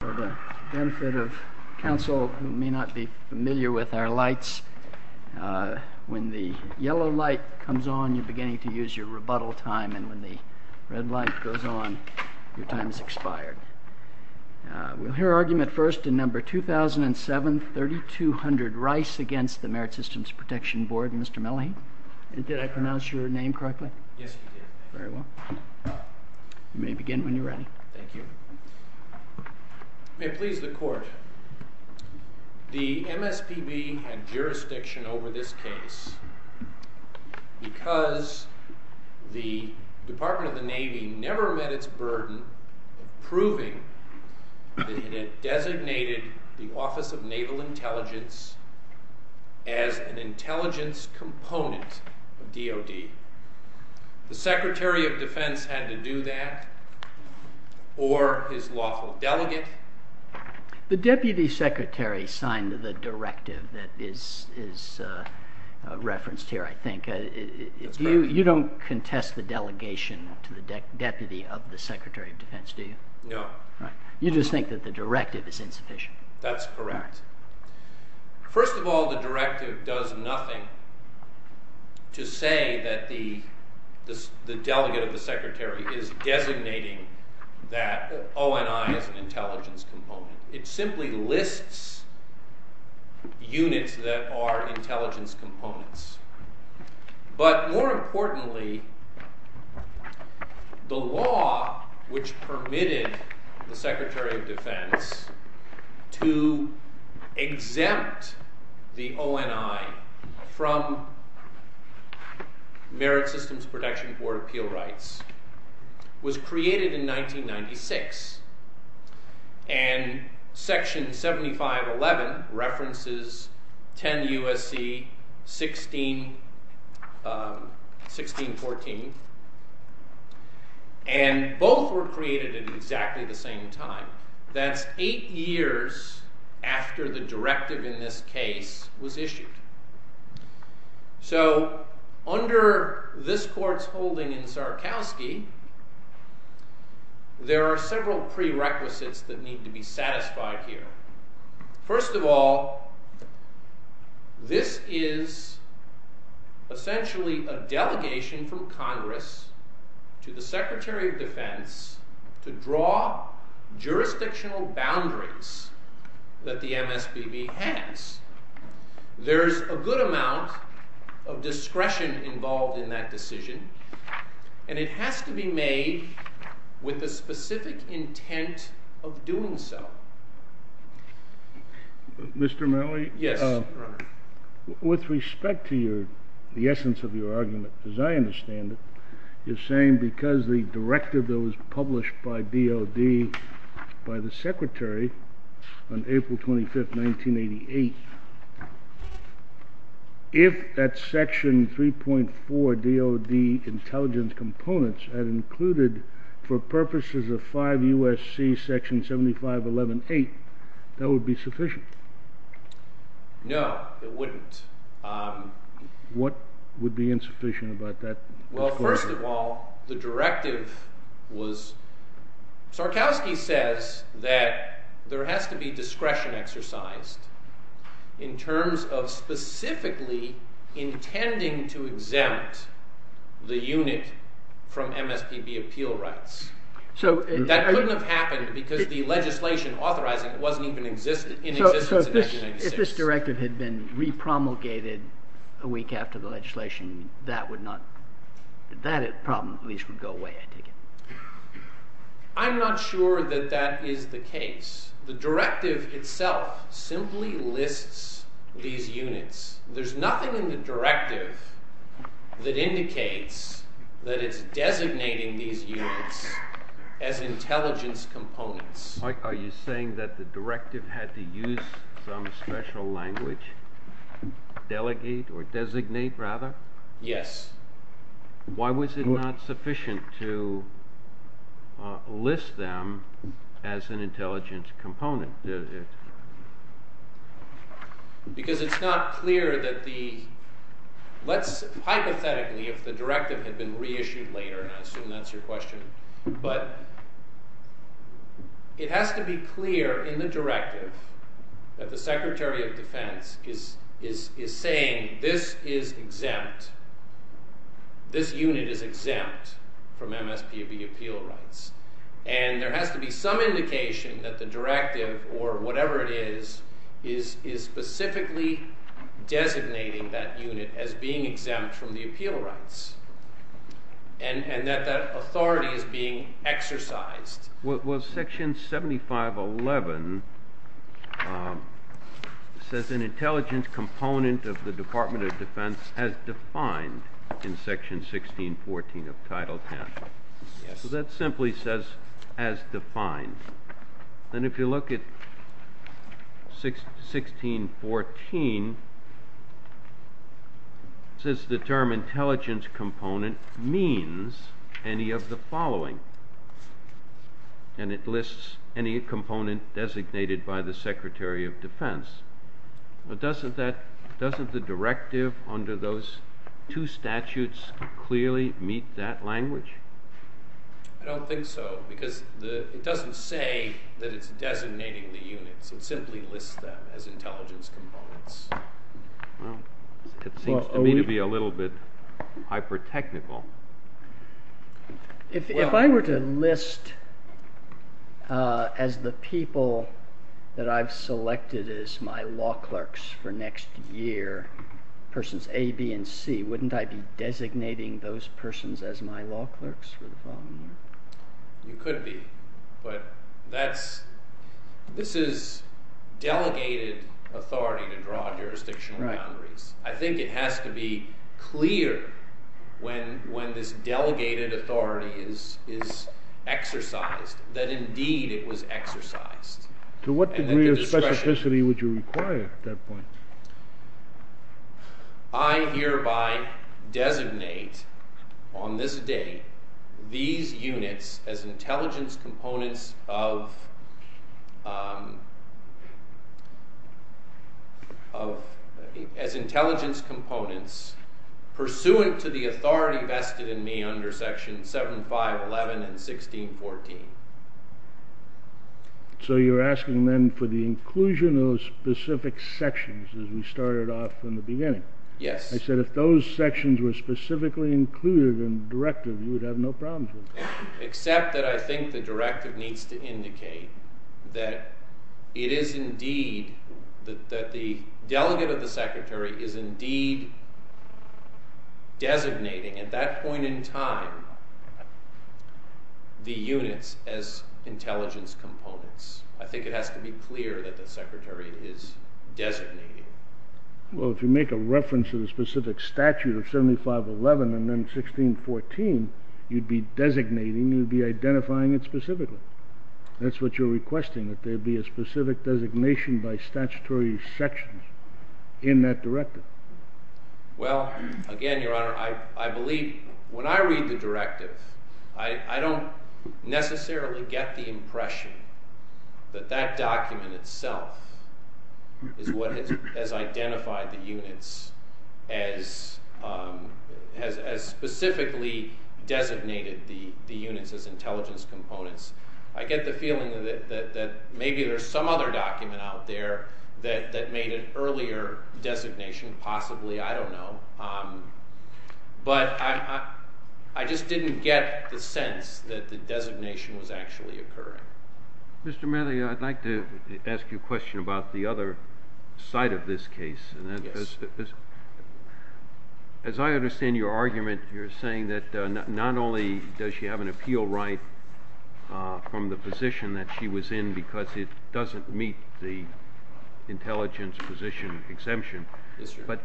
For the benefit of counsel who may not be familiar with our lights, when the yellow light comes on, you are beginning to use your rebuttal time, and when the red light goes on, your time is expired. We will hear argument first in No. 2007, 3200 Rice v. the Merit Systems Protection Board. Mr. Mellehy, did I pronounce your name correctly? Yes, you did. Very well. You may begin when you are ready. Thank you. May it please the Court, the MSPB had jurisdiction over this case because the Department of the Navy never met its burden of proving that it had designated the Office of Naval Intelligence as an intelligence component of DOD. The Secretary of Defense had to do that, or his lawful delegate. The Deputy Secretary signed the directive that is referenced here, I think. That's correct. You don't contest the delegation to the deputy of the Secretary of Defense, do you? No. You just think that the directive is insufficient. That's correct. First of all, the directive does nothing to say that the delegate of the Secretary is designating that ONI as an intelligence component. It simply lists units that are intelligence components. But more importantly, the law which permitted the Secretary of Defense to exempt the ONI from Merit Systems Protection Board appeal rights was created in 1996. And Section 7511 references 10 U.S.C. 1614. And both were created at exactly the same time. That's eight years after the directive in this case was issued. So, under this court's holding in Sarkowsky, there are several prerequisites that need to be satisfied here. First of all, this is essentially a delegation from Congress to the Secretary of Defense to draw jurisdictional boundaries that the MSBB has. There's a good amount of discretion involved in that decision, and it has to be made with the specific intent of doing so. Mr. Malley? Yes, Your Honor. With respect to the essence of your argument, as I understand it, you're saying because the directive that was published by DOD by the Secretary on April 25, 1988, if that Section 3.4 DOD intelligence components had included for purposes of 5 U.S.C. Section 7511.8, that would be sufficient. No, it wouldn't. What would be insufficient about that? Well, first of all, the directive was, Sarkowsky says that there has to be discretion exercised in terms of specifically intending to exempt the unit from MSBB appeal rights. That couldn't have happened because the legislation authorizing it wasn't even in existence in 1996. So if this directive had been re-promulgated a week after the legislation, that problem at least would go away, I take it? I'm not sure that that is the case. The directive itself simply lists these units. There's nothing in the directive that indicates that it's designating these units as intelligence components. Mike, are you saying that the directive had to use some special language, delegate or designate, rather? Yes. Why was it not sufficient to list them as an intelligence component? Because it's not clear that the, hypothetically, if the directive had been re-issued later, and I assume that's your question, but it has to be clear in the directive that the Secretary of Defense is saying this is exempt, this unit is exempt from MSBB appeal rights. And there has to be some indication that the directive, or whatever it is, is specifically designating that unit as being exempt from the appeal rights, and that that authority is being exercised. Well, Section 7511 says an intelligence component of the Department of Defense has defined in Section 1614 of Title 10. Yes. Because that simply says, as defined. And if you look at 1614, it says the term intelligence component means any of the following. And it lists any component designated by the Secretary of Defense. But doesn't the directive under those two statutes clearly meet that language? I don't think so, because it doesn't say that it's designating the units. It simply lists them as intelligence components. Well, it seems to me to be a little bit hyper-technical. If I were to list, as the people that I've selected as my law clerks for next year, persons A, B, and C, wouldn't I be designating those persons as my law clerks for the following year? You could be. But this is delegated authority to draw jurisdictional boundaries. I think it has to be clear when this delegated authority is exercised that indeed it was exercised. To what degree of specificity would you require it at that point? I hereby designate, on this date, these units as intelligence components pursuant to the authority vested in me under sections 7, 5, 11, and 1614. So you're asking then for the inclusion of those specific sections, as we started off in the beginning. Yes. I said if those sections were specifically included in the directive, you would have no problems with that. Except that I think the directive needs to indicate that the delegate of the secretary is indeed designating, at that point in time, the units as intelligence components. I think it has to be clear that the secretary is designating. Well, if you make a reference to the specific statute of 7, 5, 11, and then 1614, you'd be designating, you'd be identifying it specifically. That's what you're requesting, that there be a specific designation by statutory sections in that directive. Well, again, Your Honor, I believe when I read the directive, I don't necessarily get the impression that that document itself is what has identified the units as specifically designated the units as intelligence components. I get the feeling that maybe there's some other document out there that made an earlier designation, possibly, I don't know. But I just didn't get the sense that the designation was actually occurring. Mr. Manley, I'd like to ask you a question about the other side of this case. Yes. As I understand your argument, you're saying that not only does she have an appeal right from the position that she was in because it doesn't meet the intelligence position exemption. Yes, sir. But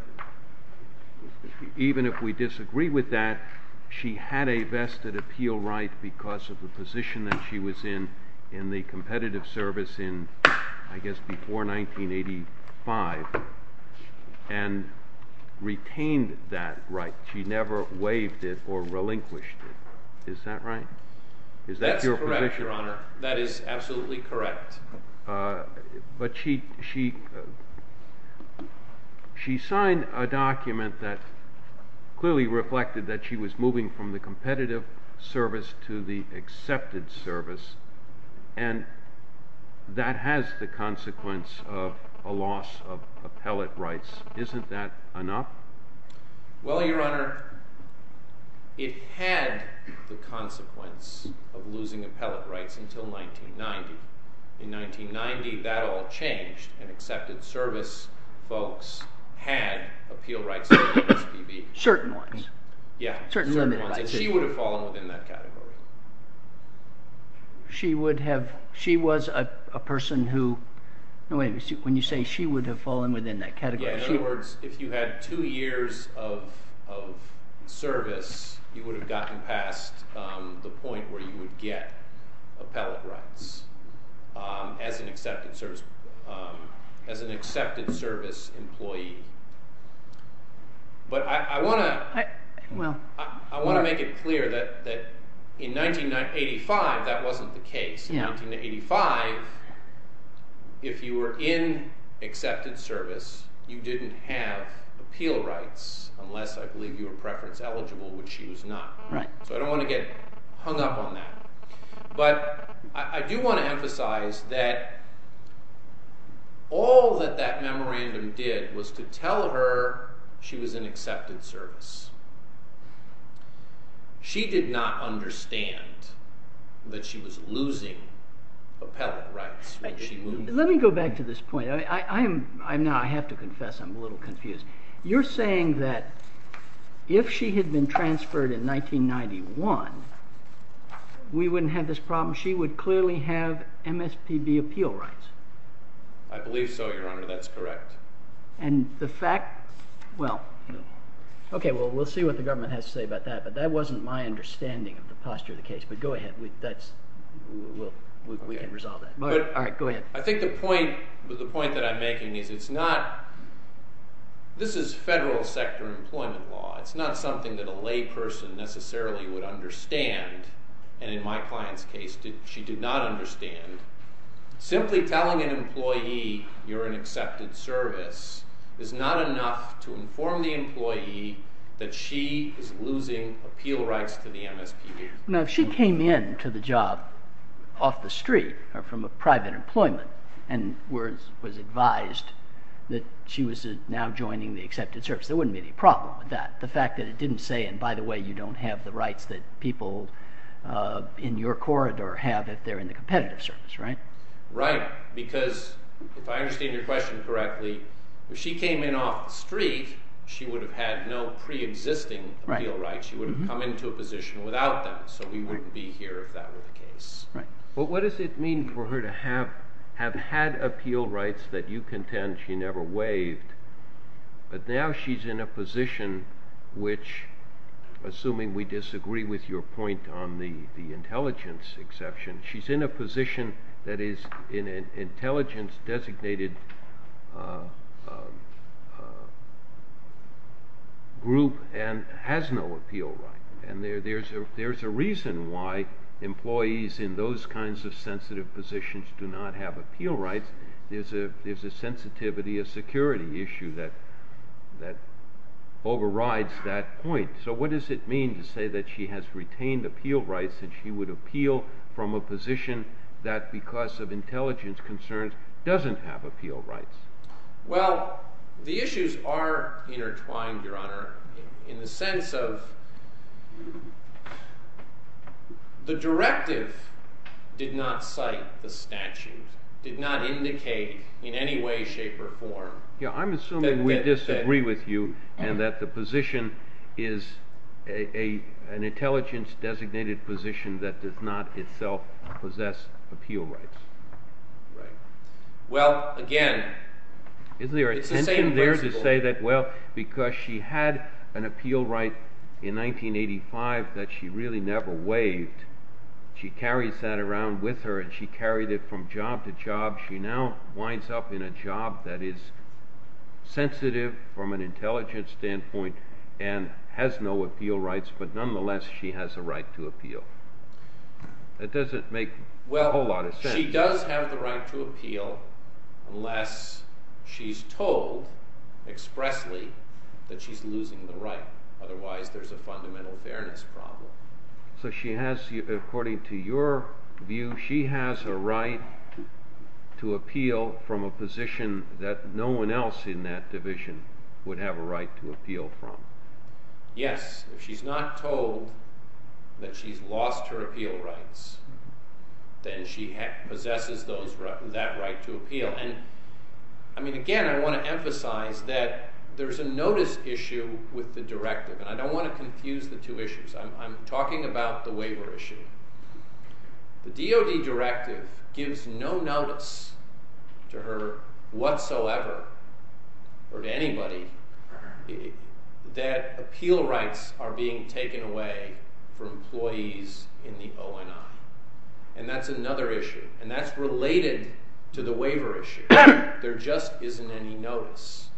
even if we disagree with that, she had a vested appeal right because of the position that she was in in the competitive service in, I guess, before 1985 and retained that right. She never waived it or relinquished it. Is that right? That's correct, Your Honor. That is absolutely correct. But she signed a document that clearly reflected that she was moving from the competitive service to the accepted service. And that has the consequence of a loss of appellate rights. Isn't that enough? Well, Your Honor, it had the consequence of losing appellate rights until 1990. In 1990, that all changed. And accepted service folks had appeal rights under the SBB. Certain ones. Yeah. Certain limited rights. And she would have fallen within that category. She would have. She was a person who. No, wait a minute. When you say she would have fallen within that category. In other words, if you had two years of service, you would have gotten past the point where you would get appellate rights as an accepted service employee. But I want to make it clear that in 1985, that wasn't the case. In 1985, if you were in accepted service, you didn't have appeal rights, unless I believe you were preference eligible, which she was not. So I don't want to get hung up on that. But I do want to emphasize that all that that memorandum did was to tell her she was in accepted service. She did not understand that she was losing appellate rights. Let me go back to this point. I have to confess. I'm a little confused. You're saying that if she had been transferred in 1991, we wouldn't have this problem. She would clearly have MSPB appeal rights. I believe so, Your Honor. That's correct. Okay, well, we'll see what the government has to say about that. But that wasn't my understanding of the posture of the case. But go ahead. We can resolve that. All right, go ahead. I think the point that I'm making is this is federal sector employment law. It's not something that a lay person necessarily would understand. And in my client's case, she did not understand. Simply telling an employee you're in accepted service is not enough to inform the employee that she is losing appeal rights to the MSPB. Now, if she came in to the job off the street or from a private employment and was advised that she was now joining the accepted service, there wouldn't be any problem with that. The fact that it didn't say, and by the way, you don't have the rights that people in your corridor have if they're in the competitive service, right? Right, because if I understand your question correctly, if she came in off the street, she would have had no preexisting appeal rights. She would have come into a position without them, so we wouldn't be here if that were the case. Right. But what does it mean for her to have had appeal rights that you contend she never waived, but now she's in a position which, assuming we disagree with your point on the intelligence exception, she's in a position that is in an intelligence designated group and has no appeal right. And there's a reason why employees in those kinds of sensitive positions do not have appeal rights. There's a sensitivity, a security issue that overrides that point. So what does it mean to say that she has retained appeal rights and she would appeal from a position that, because of intelligence concerns, doesn't have appeal rights? Well, the issues are intertwined, Your Honor, in the sense of the directive did not cite the statute, did not indicate in any way, shape, or form. Yeah, I'm assuming we disagree with you and that the position is an intelligence designated position that does not itself possess appeal rights. Right. Well, again, it's the same principle. Isn't there a tension there to say that, well, because she had an appeal right in 1985 that she really never waived, she carries that around with her and she carried it from job to job. She now winds up in a job that is sensitive from an intelligence standpoint and has no appeal rights, but nonetheless, she has a right to appeal. That doesn't make a whole lot of sense. She does have the right to appeal unless she's told expressly that she's losing the right. Otherwise, there's a fundamental fairness problem. So she has, according to your view, she has a right to appeal from a position that no one else in that division would have a right to appeal from. Yes, if she's not told that she's lost her appeal rights, then she possesses that right to appeal. Again, I want to emphasize that there's a notice issue with the directive. I don't want to confuse the two issues. I'm talking about the waiver issue. The DOD directive gives no notice to her whatsoever or to anybody that appeal rights are being taken away from employees in the ONI. And that's another issue, and that's related to the waiver issue. There just isn't any notice.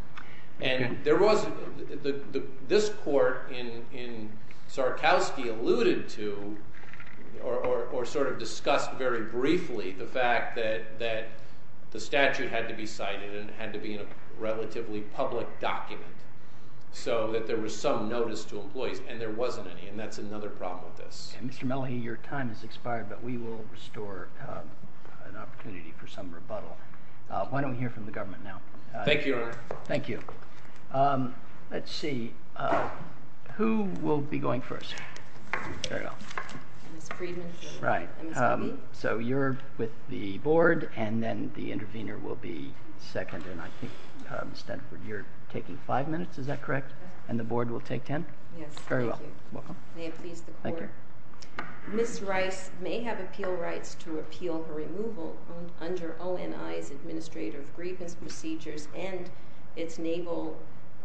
This court in Sarkowsky alluded to or sort of discussed very briefly the fact that the statute had to be cited and had to be in a relatively public document so that there was some notice to employees. And there wasn't any, and that's another problem with this. Mr. Melody, your time has expired, but we will restore an opportunity for some rebuttal. Why don't we hear from the government now? Thank you, Your Honor. Thank you. Let's see, who will be going first? Ms. Friedman. Right. So you're with the board, and then the intervener will be second, and I think, Ms. Stanford, you're taking five minutes, is that correct? And the board will take ten? Yes. Very well. May it please the court. Thank you. Ms. Rice may have appeal rights to repeal her removal under ONI's Administrative Grievance Procedures and its Naval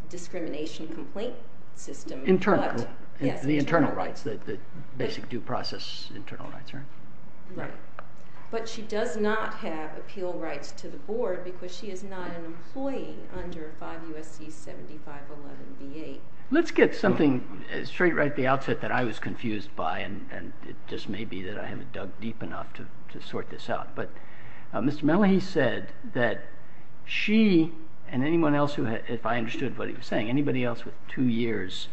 Discrimination Complaint System. Internal. Yes. The internal rights, the basic due process internal rights, right? Right. But she does not have appeal rights to the board because she is not an employee under 5 U.S.C. 7511 v. 8. Let's get something straight right at the outset that I was confused by, and it just may be that I haven't dug deep enough to sort this out. But Mr. Malahy said that she and anyone else, if I understood what he was saying, anybody else with two years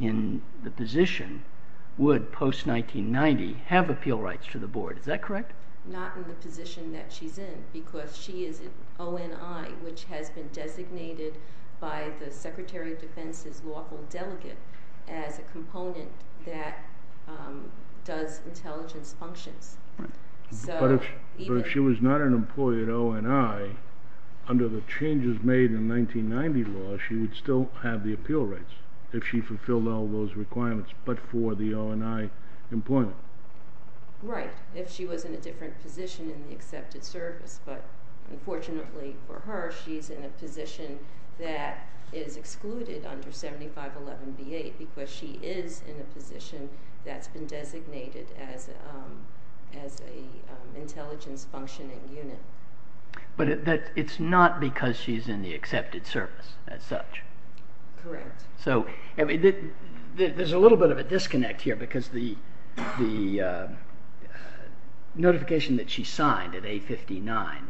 in the position would, post-1990, have appeal rights to the board. Is that correct? Not in the position that she's in because she is at ONI, which has been designated by the Secretary of Defense's lawful delegate as a component that does intelligence functions. Right. But if she was not an employee at ONI, under the changes made in 1990 law, she would still have the appeal rights if she fulfilled all those requirements but for the ONI employment. Right, if she was in a different position in the accepted service. But unfortunately for her, she's in a position that is excluded under 7511 v. 8 because she is in a position that's been designated as an intelligence functioning unit. But it's not because she's in the accepted service as such. Correct. There's a little bit of a disconnect here because the notification that she signed at 859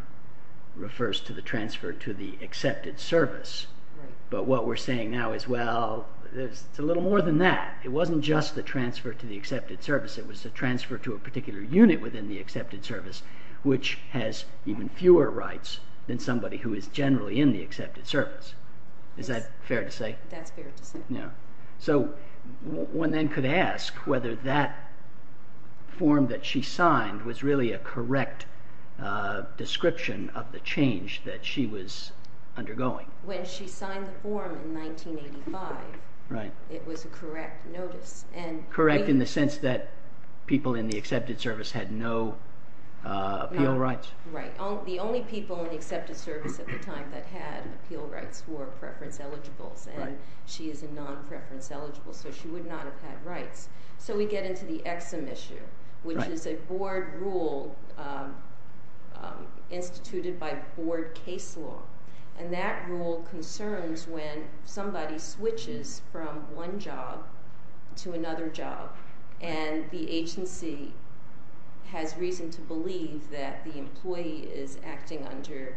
refers to the transfer to the accepted service. But what we're saying now is, well, it's a little more than that. It wasn't just the transfer to the accepted service. It was the transfer to a particular unit within the accepted service, which has even fewer rights than somebody who is generally in the accepted service. Is that fair to say? That's fair to say. So one then could ask whether that form that she signed was really a correct description of the change that she was undergoing. When she signed the form in 1985, it was a correct notice. Correct in the sense that people in the accepted service had no appeal rights. Right. The only people in the accepted service at the time that had appeal rights were preference eligibles. And she is a non-preference eligible, so she would not have had rights. So we get into the EXIM issue, which is a board rule instituted by board case law. And that rule concerns when somebody switches from one job to another job, and the agency has reason to believe that the employee is acting under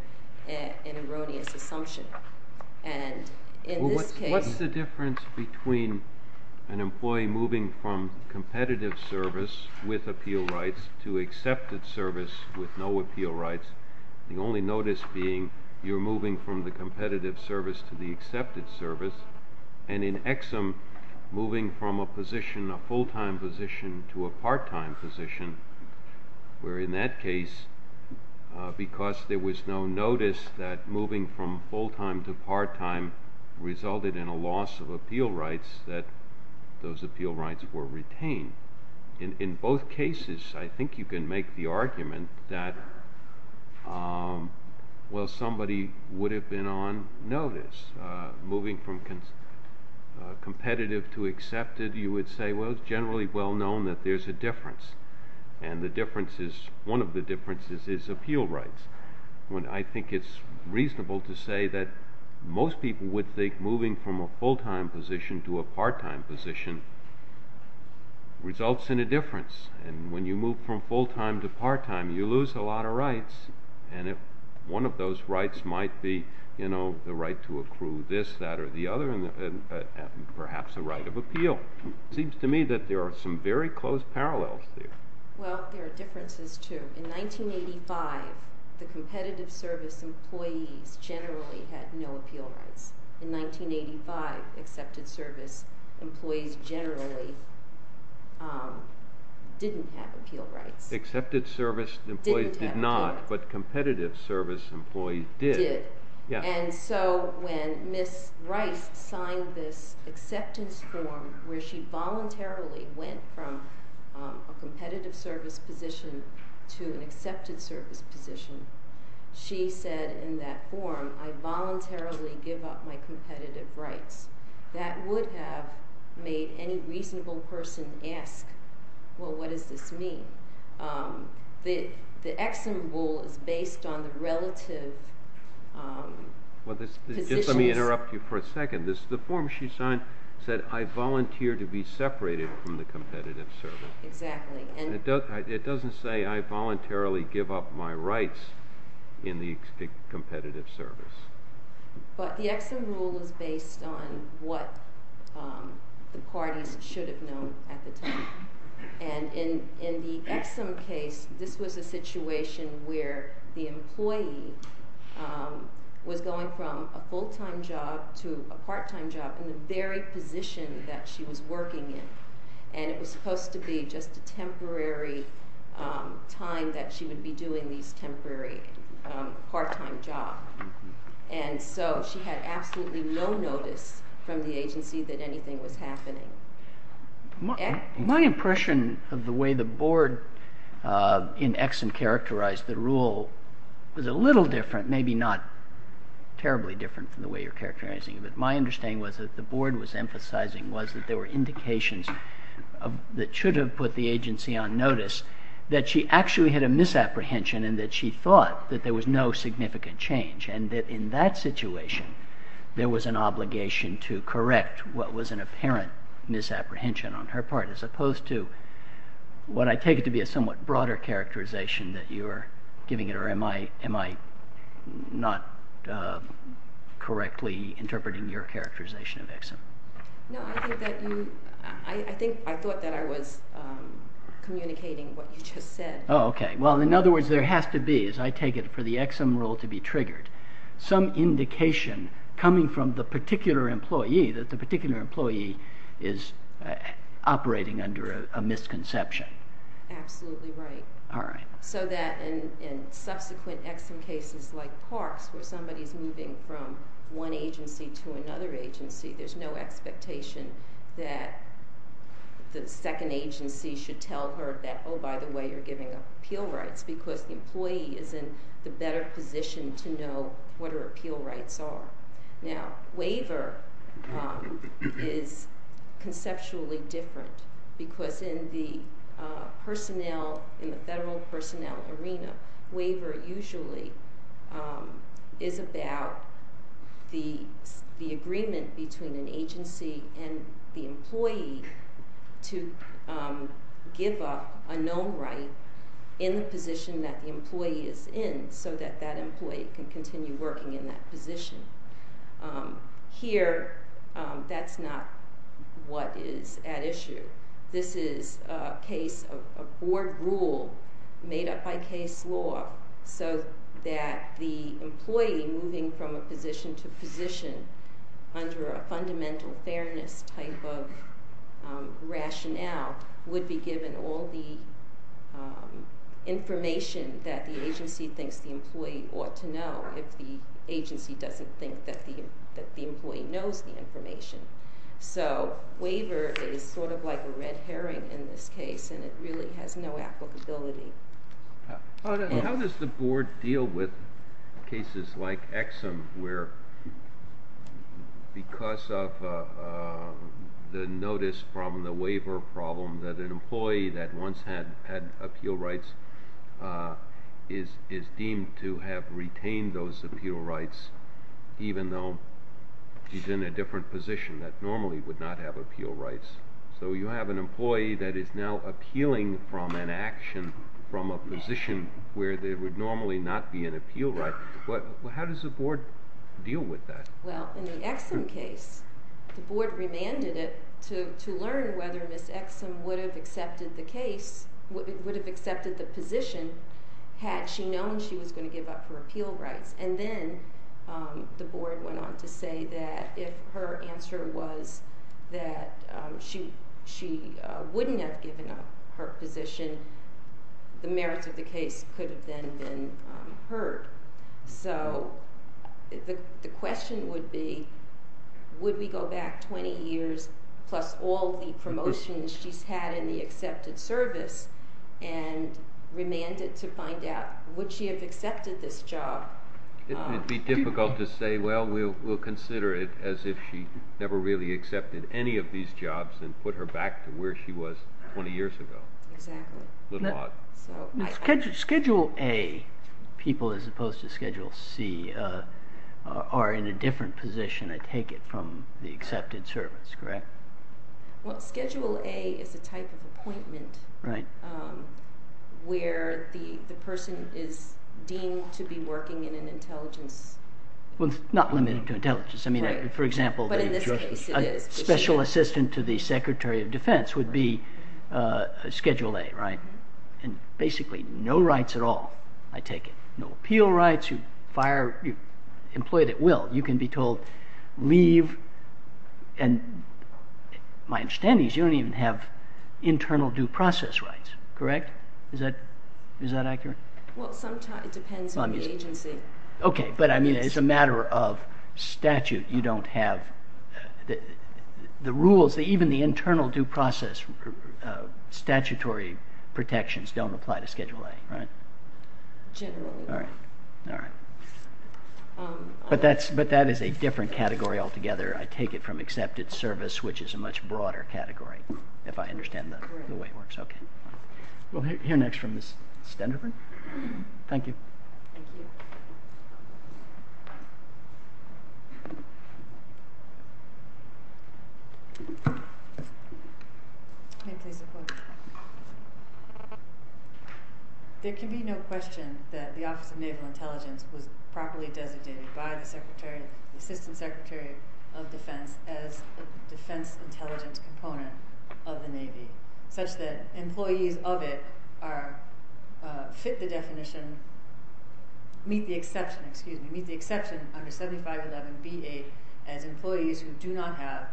an erroneous assumption. And in this case— What's the difference between an employee moving from competitive service with appeal rights to accepted service with no appeal rights, the only notice being you're moving from the competitive service to the accepted service, and in EXIM, moving from a position, a full-time position, to a part-time position, where in that case, because there was no notice that moving from full-time to part-time resulted in a loss of appeal rights, that those appeal rights were retained. In both cases, I think you can make the argument that, well, somebody would have been on notice. Moving from competitive to accepted, you would say, well, it's generally well known that there's a difference. And the difference is—one of the differences is appeal rights. I think it's reasonable to say that most people would think moving from a full-time position to a part-time position results in a difference. And when you move from full-time to part-time, you lose a lot of rights. And one of those rights might be the right to accrue this, that, or the other, and perhaps a right of appeal. It seems to me that there are some very close parallels there. Well, there are differences, too. In 1985, the competitive service employees generally had no appeal rights. In 1985, accepted service employees generally didn't have appeal rights. Accepted service employees did not, but competitive service employees did. And so when Ms. Rice signed this acceptance form where she voluntarily went from a competitive service position to an accepted service position, she said in that form, I voluntarily give up my competitive rights. That would have made any reasonable person ask, well, what does this mean? The Exum rule is based on the relative positions. Just let me interrupt you for a second. The form she signed said, I volunteer to be separated from the competitive service. Exactly. It doesn't say, I voluntarily give up my rights in the competitive service. But the Exum rule is based on what the parties should have known at the time. And in the Exum case, this was a situation where the employee was going from a full-time job to a part-time job in the very position that she was working in. And it was supposed to be just a temporary time that she would be doing these temporary part-time jobs. And so she had absolutely no notice from the agency that anything was happening. My impression of the way the board in Exum characterized the rule was a little different, maybe not terribly different from the way you're characterizing it. But my understanding was that the board was emphasizing was that there were indications that should have put the agency on notice, that she actually had a misapprehension and that she thought that there was no significant change, and that in that situation, there was an obligation to correct what was an apparent misapprehension on her part, as opposed to what I take it to be a somewhat broader characterization that you're giving it, or am I not correctly interpreting your characterization of Exum? No, I think I thought that I was communicating what you just said. Oh, okay. Well, in other words, there has to be, as I take it, for the Exum rule to be triggered, some indication coming from the particular employee that the particular employee is operating under a misconception. Absolutely right. All right. So that in subsequent Exum cases like Parks, where somebody's moving from one agency to another agency, there's no expectation that the second agency should tell her that, oh, by the way, you're giving up appeal rights, because the employee is in the better position to know what her appeal rights are. Now, waiver is conceptually different, because in the personnel, in the federal personnel arena, waiver usually is about the agreement between an agency and the employee to give up a known right in the position that the employee is in, so that that employee can continue working in that position. Here, that's not what is at issue. This is a case, a board rule made up by case law, so that the employee moving from a position to position under a fundamental fairness type of rationale would be given all the information that the agency thinks the employee ought to know, if the agency doesn't think that the employee knows the information. So waiver is sort of like a red herring in this case, and it really has no applicability. How does the board deal with cases like Exum where, because of the notice from the waiver problem, that an employee that once had appeal rights is deemed to have retained those appeal rights, even though she's in a different position that normally would not have appeal rights? So you have an employee that is now appealing from an action from a position where there would normally not be an appeal right. How does the board deal with that? Well, in the Exum case, the board remanded it to learn whether Ms. Exum would have accepted the case, would have accepted the position, had she known she was going to give up her appeal rights. And then the board went on to say that if her answer was that she wouldn't have given up her position, the merits of the case could have then been heard. So the question would be, would we go back 20 years, plus all the promotions she's had in the accepted service, and remanded to find out, would she have accepted this job? It would be difficult to say, well, we'll consider it as if she never really accepted any of these jobs and put her back to where she was 20 years ago. Exactly. A little odd. Schedule A people, as opposed to Schedule C, are in a different position, I take it, from the accepted service, correct? Well, Schedule A is a type of appointment where the person is deemed to be working in an intelligence... Well, it's not limited to intelligence. Right. But in this case, it is. For example, a special assistant to the Secretary of Defense would be Schedule A, right? And basically, no rights at all, I take it. No appeal rights, you're fired, you're employed at will. You can be told, leave, and my understanding is you don't even have internal due process rights, correct? Is that accurate? Well, sometimes it depends on the agency. Okay, but I mean, it's a matter of statute. You don't have the rules, even the internal due process statutory protections don't apply to Schedule A, right? Generally. All right, all right. But that is a different category altogether. I take it from accepted service, which is a much broader category, if I understand the way it works. Okay. We'll hear next from Ms. Stenderberg. Thank you. Thank you. May I please have a question? There can be no question that the Office of Naval Intelligence was properly designated by the Secretary, the Assistant Secretary of Defense, as a defense intelligence component of the Navy, such that employees of it are, fit the definition, meet the exception, excuse me, meet the exception under 7511B8 as employees who do not have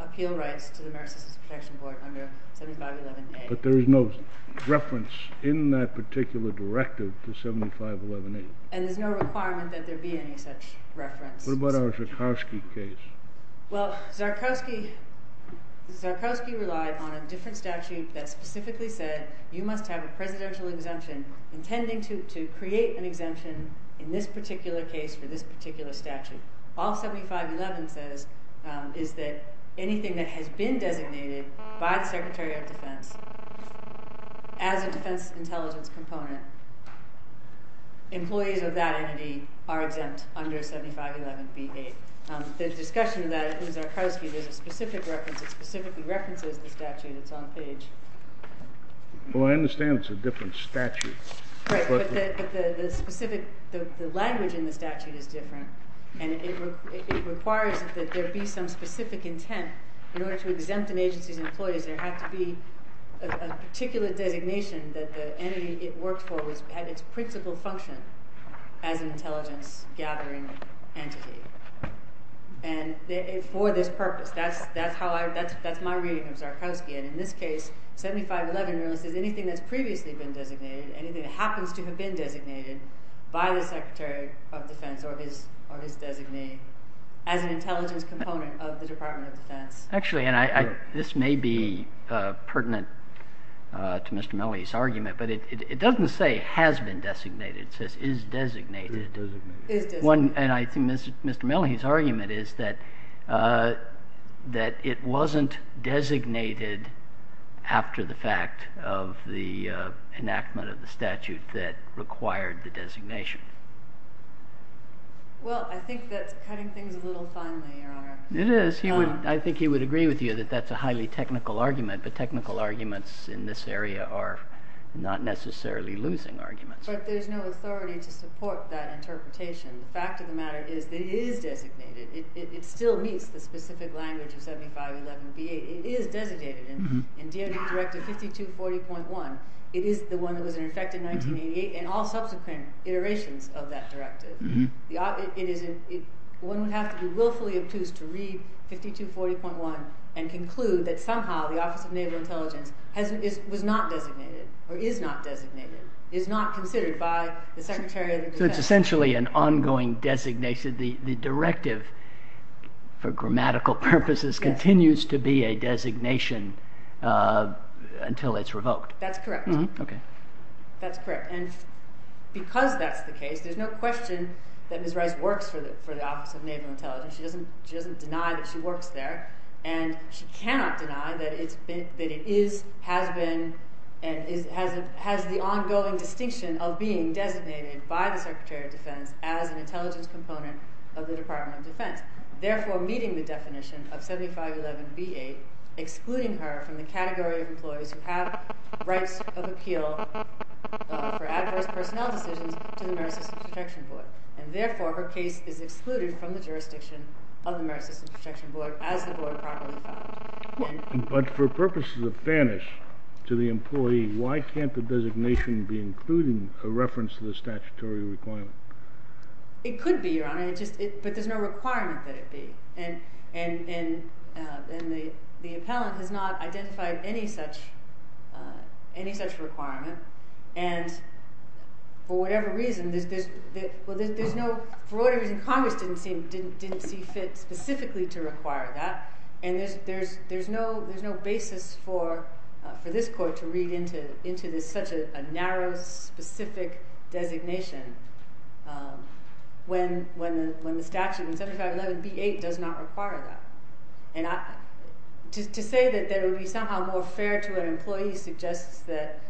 appeal rights to the Maritime Protection Board under 7511A. But there is no reference in that particular directive to 7511A. And there's no requirement that there be any such reference. What about our Zarkowski case? Well, Zarkowski relied on a different statute that specifically said you must have a presidential exemption intending to create an exemption in this particular case for this particular statute. All 7511 says is that anything that has been designated by the Secretary of Defense as a defense intelligence component, employees of that entity are exempt under 7511B8. The discussion of that in Zarkowski, there's a specific reference. It specifically references the statute. It's on page. Well, I understand it's a different statute. Right. But the specific, the language in the statute is different. And it requires that there be some specific intent in order to exempt an agency's employees. There had to be a particular designation that the entity it worked for had its principal function as an intelligence-gathering entity. And for this purpose, that's my reading of Zarkowski. And in this case, 7511 really says anything that's previously been designated, anything that happens to have been designated by the Secretary of Defense or his designee, Actually, and this may be pertinent to Mr. Melley's argument, but it doesn't say has been designated. It says is designated. And I think Mr. Melley's argument is that it wasn't designated after the fact of the enactment of the statute that required the designation. Well, I think that's cutting things a little finely, Your Honor. It is. I think he would agree with you that that's a highly technical argument. But technical arguments in this area are not necessarily losing arguments. But there's no authority to support that interpretation. The fact of the matter is that it is designated. It still meets the specific language of 7511B8. It is designated in DOJ Directive 5240.1. It is the one that was in effect in 1988 and all subsequent iterations of that directive. One would have to be willfully obtuse to read 5240.1 and conclude that somehow the Office of Naval Intelligence was not designated or is not designated, is not considered by the Secretary of the Defense. So it's essentially an ongoing designation. The directive, for grammatical purposes, continues to be a designation until it's revoked. That's correct. Okay. That's correct. And because that's the case, there's no question that Ms. Rice works for the Office of Naval Intelligence. She doesn't deny that she works there. And she cannot deny that it is, has been, and has the ongoing distinction of being designated by the Secretary of Defense as an intelligence component of the Department of Defense, therefore meeting the definition of 7511B8, excluding her from the category of employees who have rights of appeal for adverse personnel decisions to the Merit System Protection Board. And, therefore, her case is excluded from the jurisdiction of the Merit System Protection Board as the board properly found. But for purposes of fairness to the employee, why can't the designation be including a reference to the statutory requirement? It could be, Your Honor. But there's no requirement that it be. And the appellant has not identified any such requirement. And for whatever reason, there's no – for whatever reason, Congress didn't see fit specifically to require that. And there's no basis for this court to read into such a narrow, specific designation when the statute in 7511B8 does not require that. And to say that it would be somehow more fair to an employee suggests that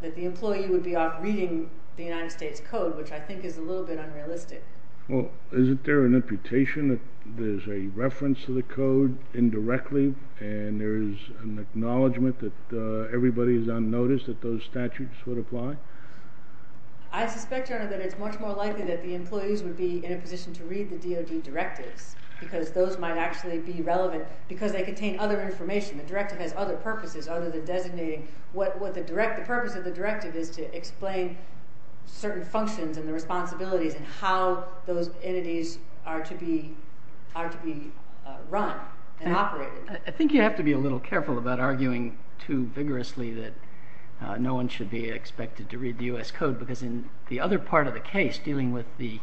the employee would be off reading the United States Code, which I think is a little bit unrealistic. Well, isn't there an imputation that there's a reference to the code indirectly and there's an acknowledgment that everybody is on notice that those statutes would apply? I suspect, Your Honor, that it's much more likely that the employees would be in a position to read the DOD directives because those might actually be relevant because they contain other information. The directive has other purposes other than designating – the purpose of the directive is to explain certain functions and the responsibilities and how those entities are to be run and operated. I think you have to be a little careful about arguing too vigorously that no one should be expected to read the U.S. Code. Because in the other part of the case, dealing with the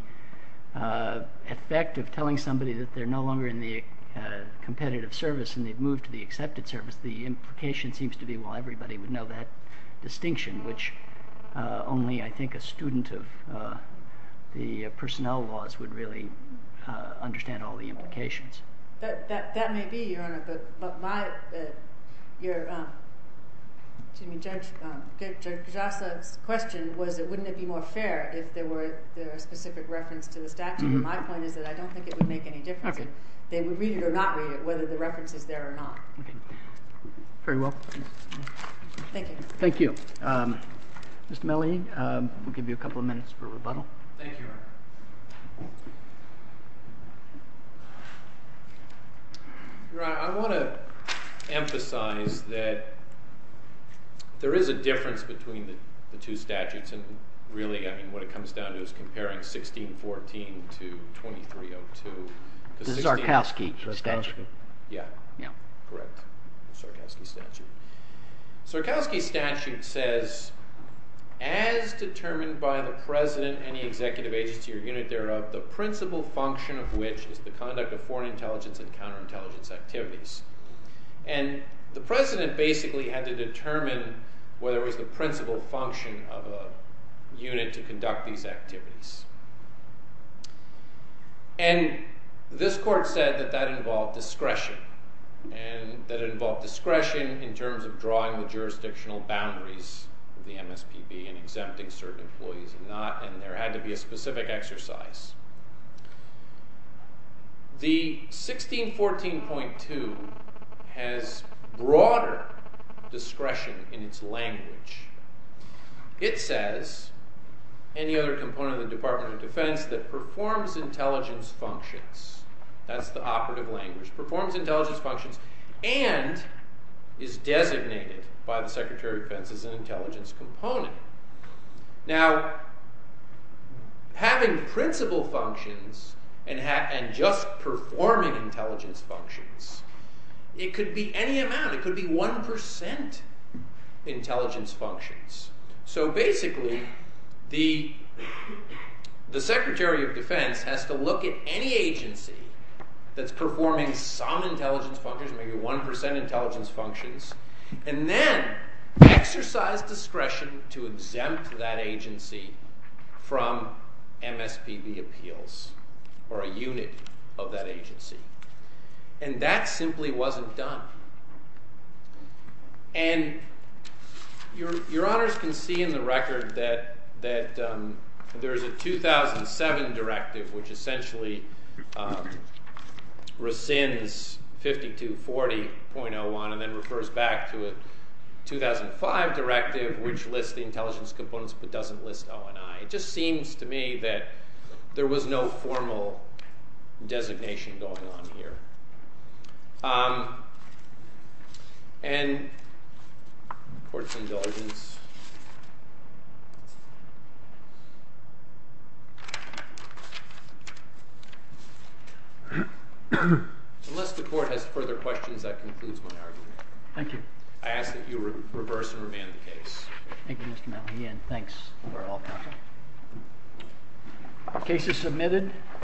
effect of telling somebody that they're no longer in the competitive service and they've moved to the accepted service, the implication seems to be, well, everybody would know that distinction, which only, I think, a student of the personnel laws would really understand all the implications. That may be, Your Honor, but Judge Pujasa's question was, wouldn't it be more fair if there were a specific reference to the statute? My point is that I don't think it would make any difference if they would read it or not read it, whether the reference is there or not. Okay. Very well. Thank you. Thank you. Mr. Melley, we'll give you a couple of minutes for rebuttal. Thank you, Your Honor. Your Honor, I want to emphasize that there is a difference between the two statutes. And really, I mean, what it comes down to is comparing 1614 to 2302. The Sarkowski statute. Yeah. Yeah. Correct. The Sarkowski statute. The Sarkowski statute says, as determined by the president, any executive agency or unit thereof, the principal function of which is the conduct of foreign intelligence and counterintelligence activities. And the president basically had to determine whether it was the principal function of a unit to conduct these activities. And this court said that that involved discretion. And that involved discretion in terms of drawing the jurisdictional boundaries of the MSPB and exempting certain employees and not. And there had to be a specific exercise. The 1614.2 has broader discretion in its language. It says, any other component of the Department of Defense that performs intelligence functions. That's the operative language. Performs intelligence functions and is designated by the Secretary of Defense as an intelligence component. Now, having principal functions and just performing intelligence functions, it could be any amount. It could be 1% intelligence functions. So, basically, the Secretary of Defense has to look at any agency that's performing some intelligence functions, maybe 1% intelligence functions. And then exercise discretion to exempt that agency from MSPB appeals or a unit of that agency. And that simply wasn't done. And your honors can see in the record that there's a 2007 directive, which essentially rescinds 5240.01 and then refers back to a 2005 directive, which lists the intelligence components but doesn't list O&I. It just seems to me that there was no formal designation going on here. And court's indulgence. Unless the court has further questions, that concludes my argument. Thank you. I ask that you reverse and remand the case. Thank you, Mr. Malley, and thanks for all counsel. Case is submitted.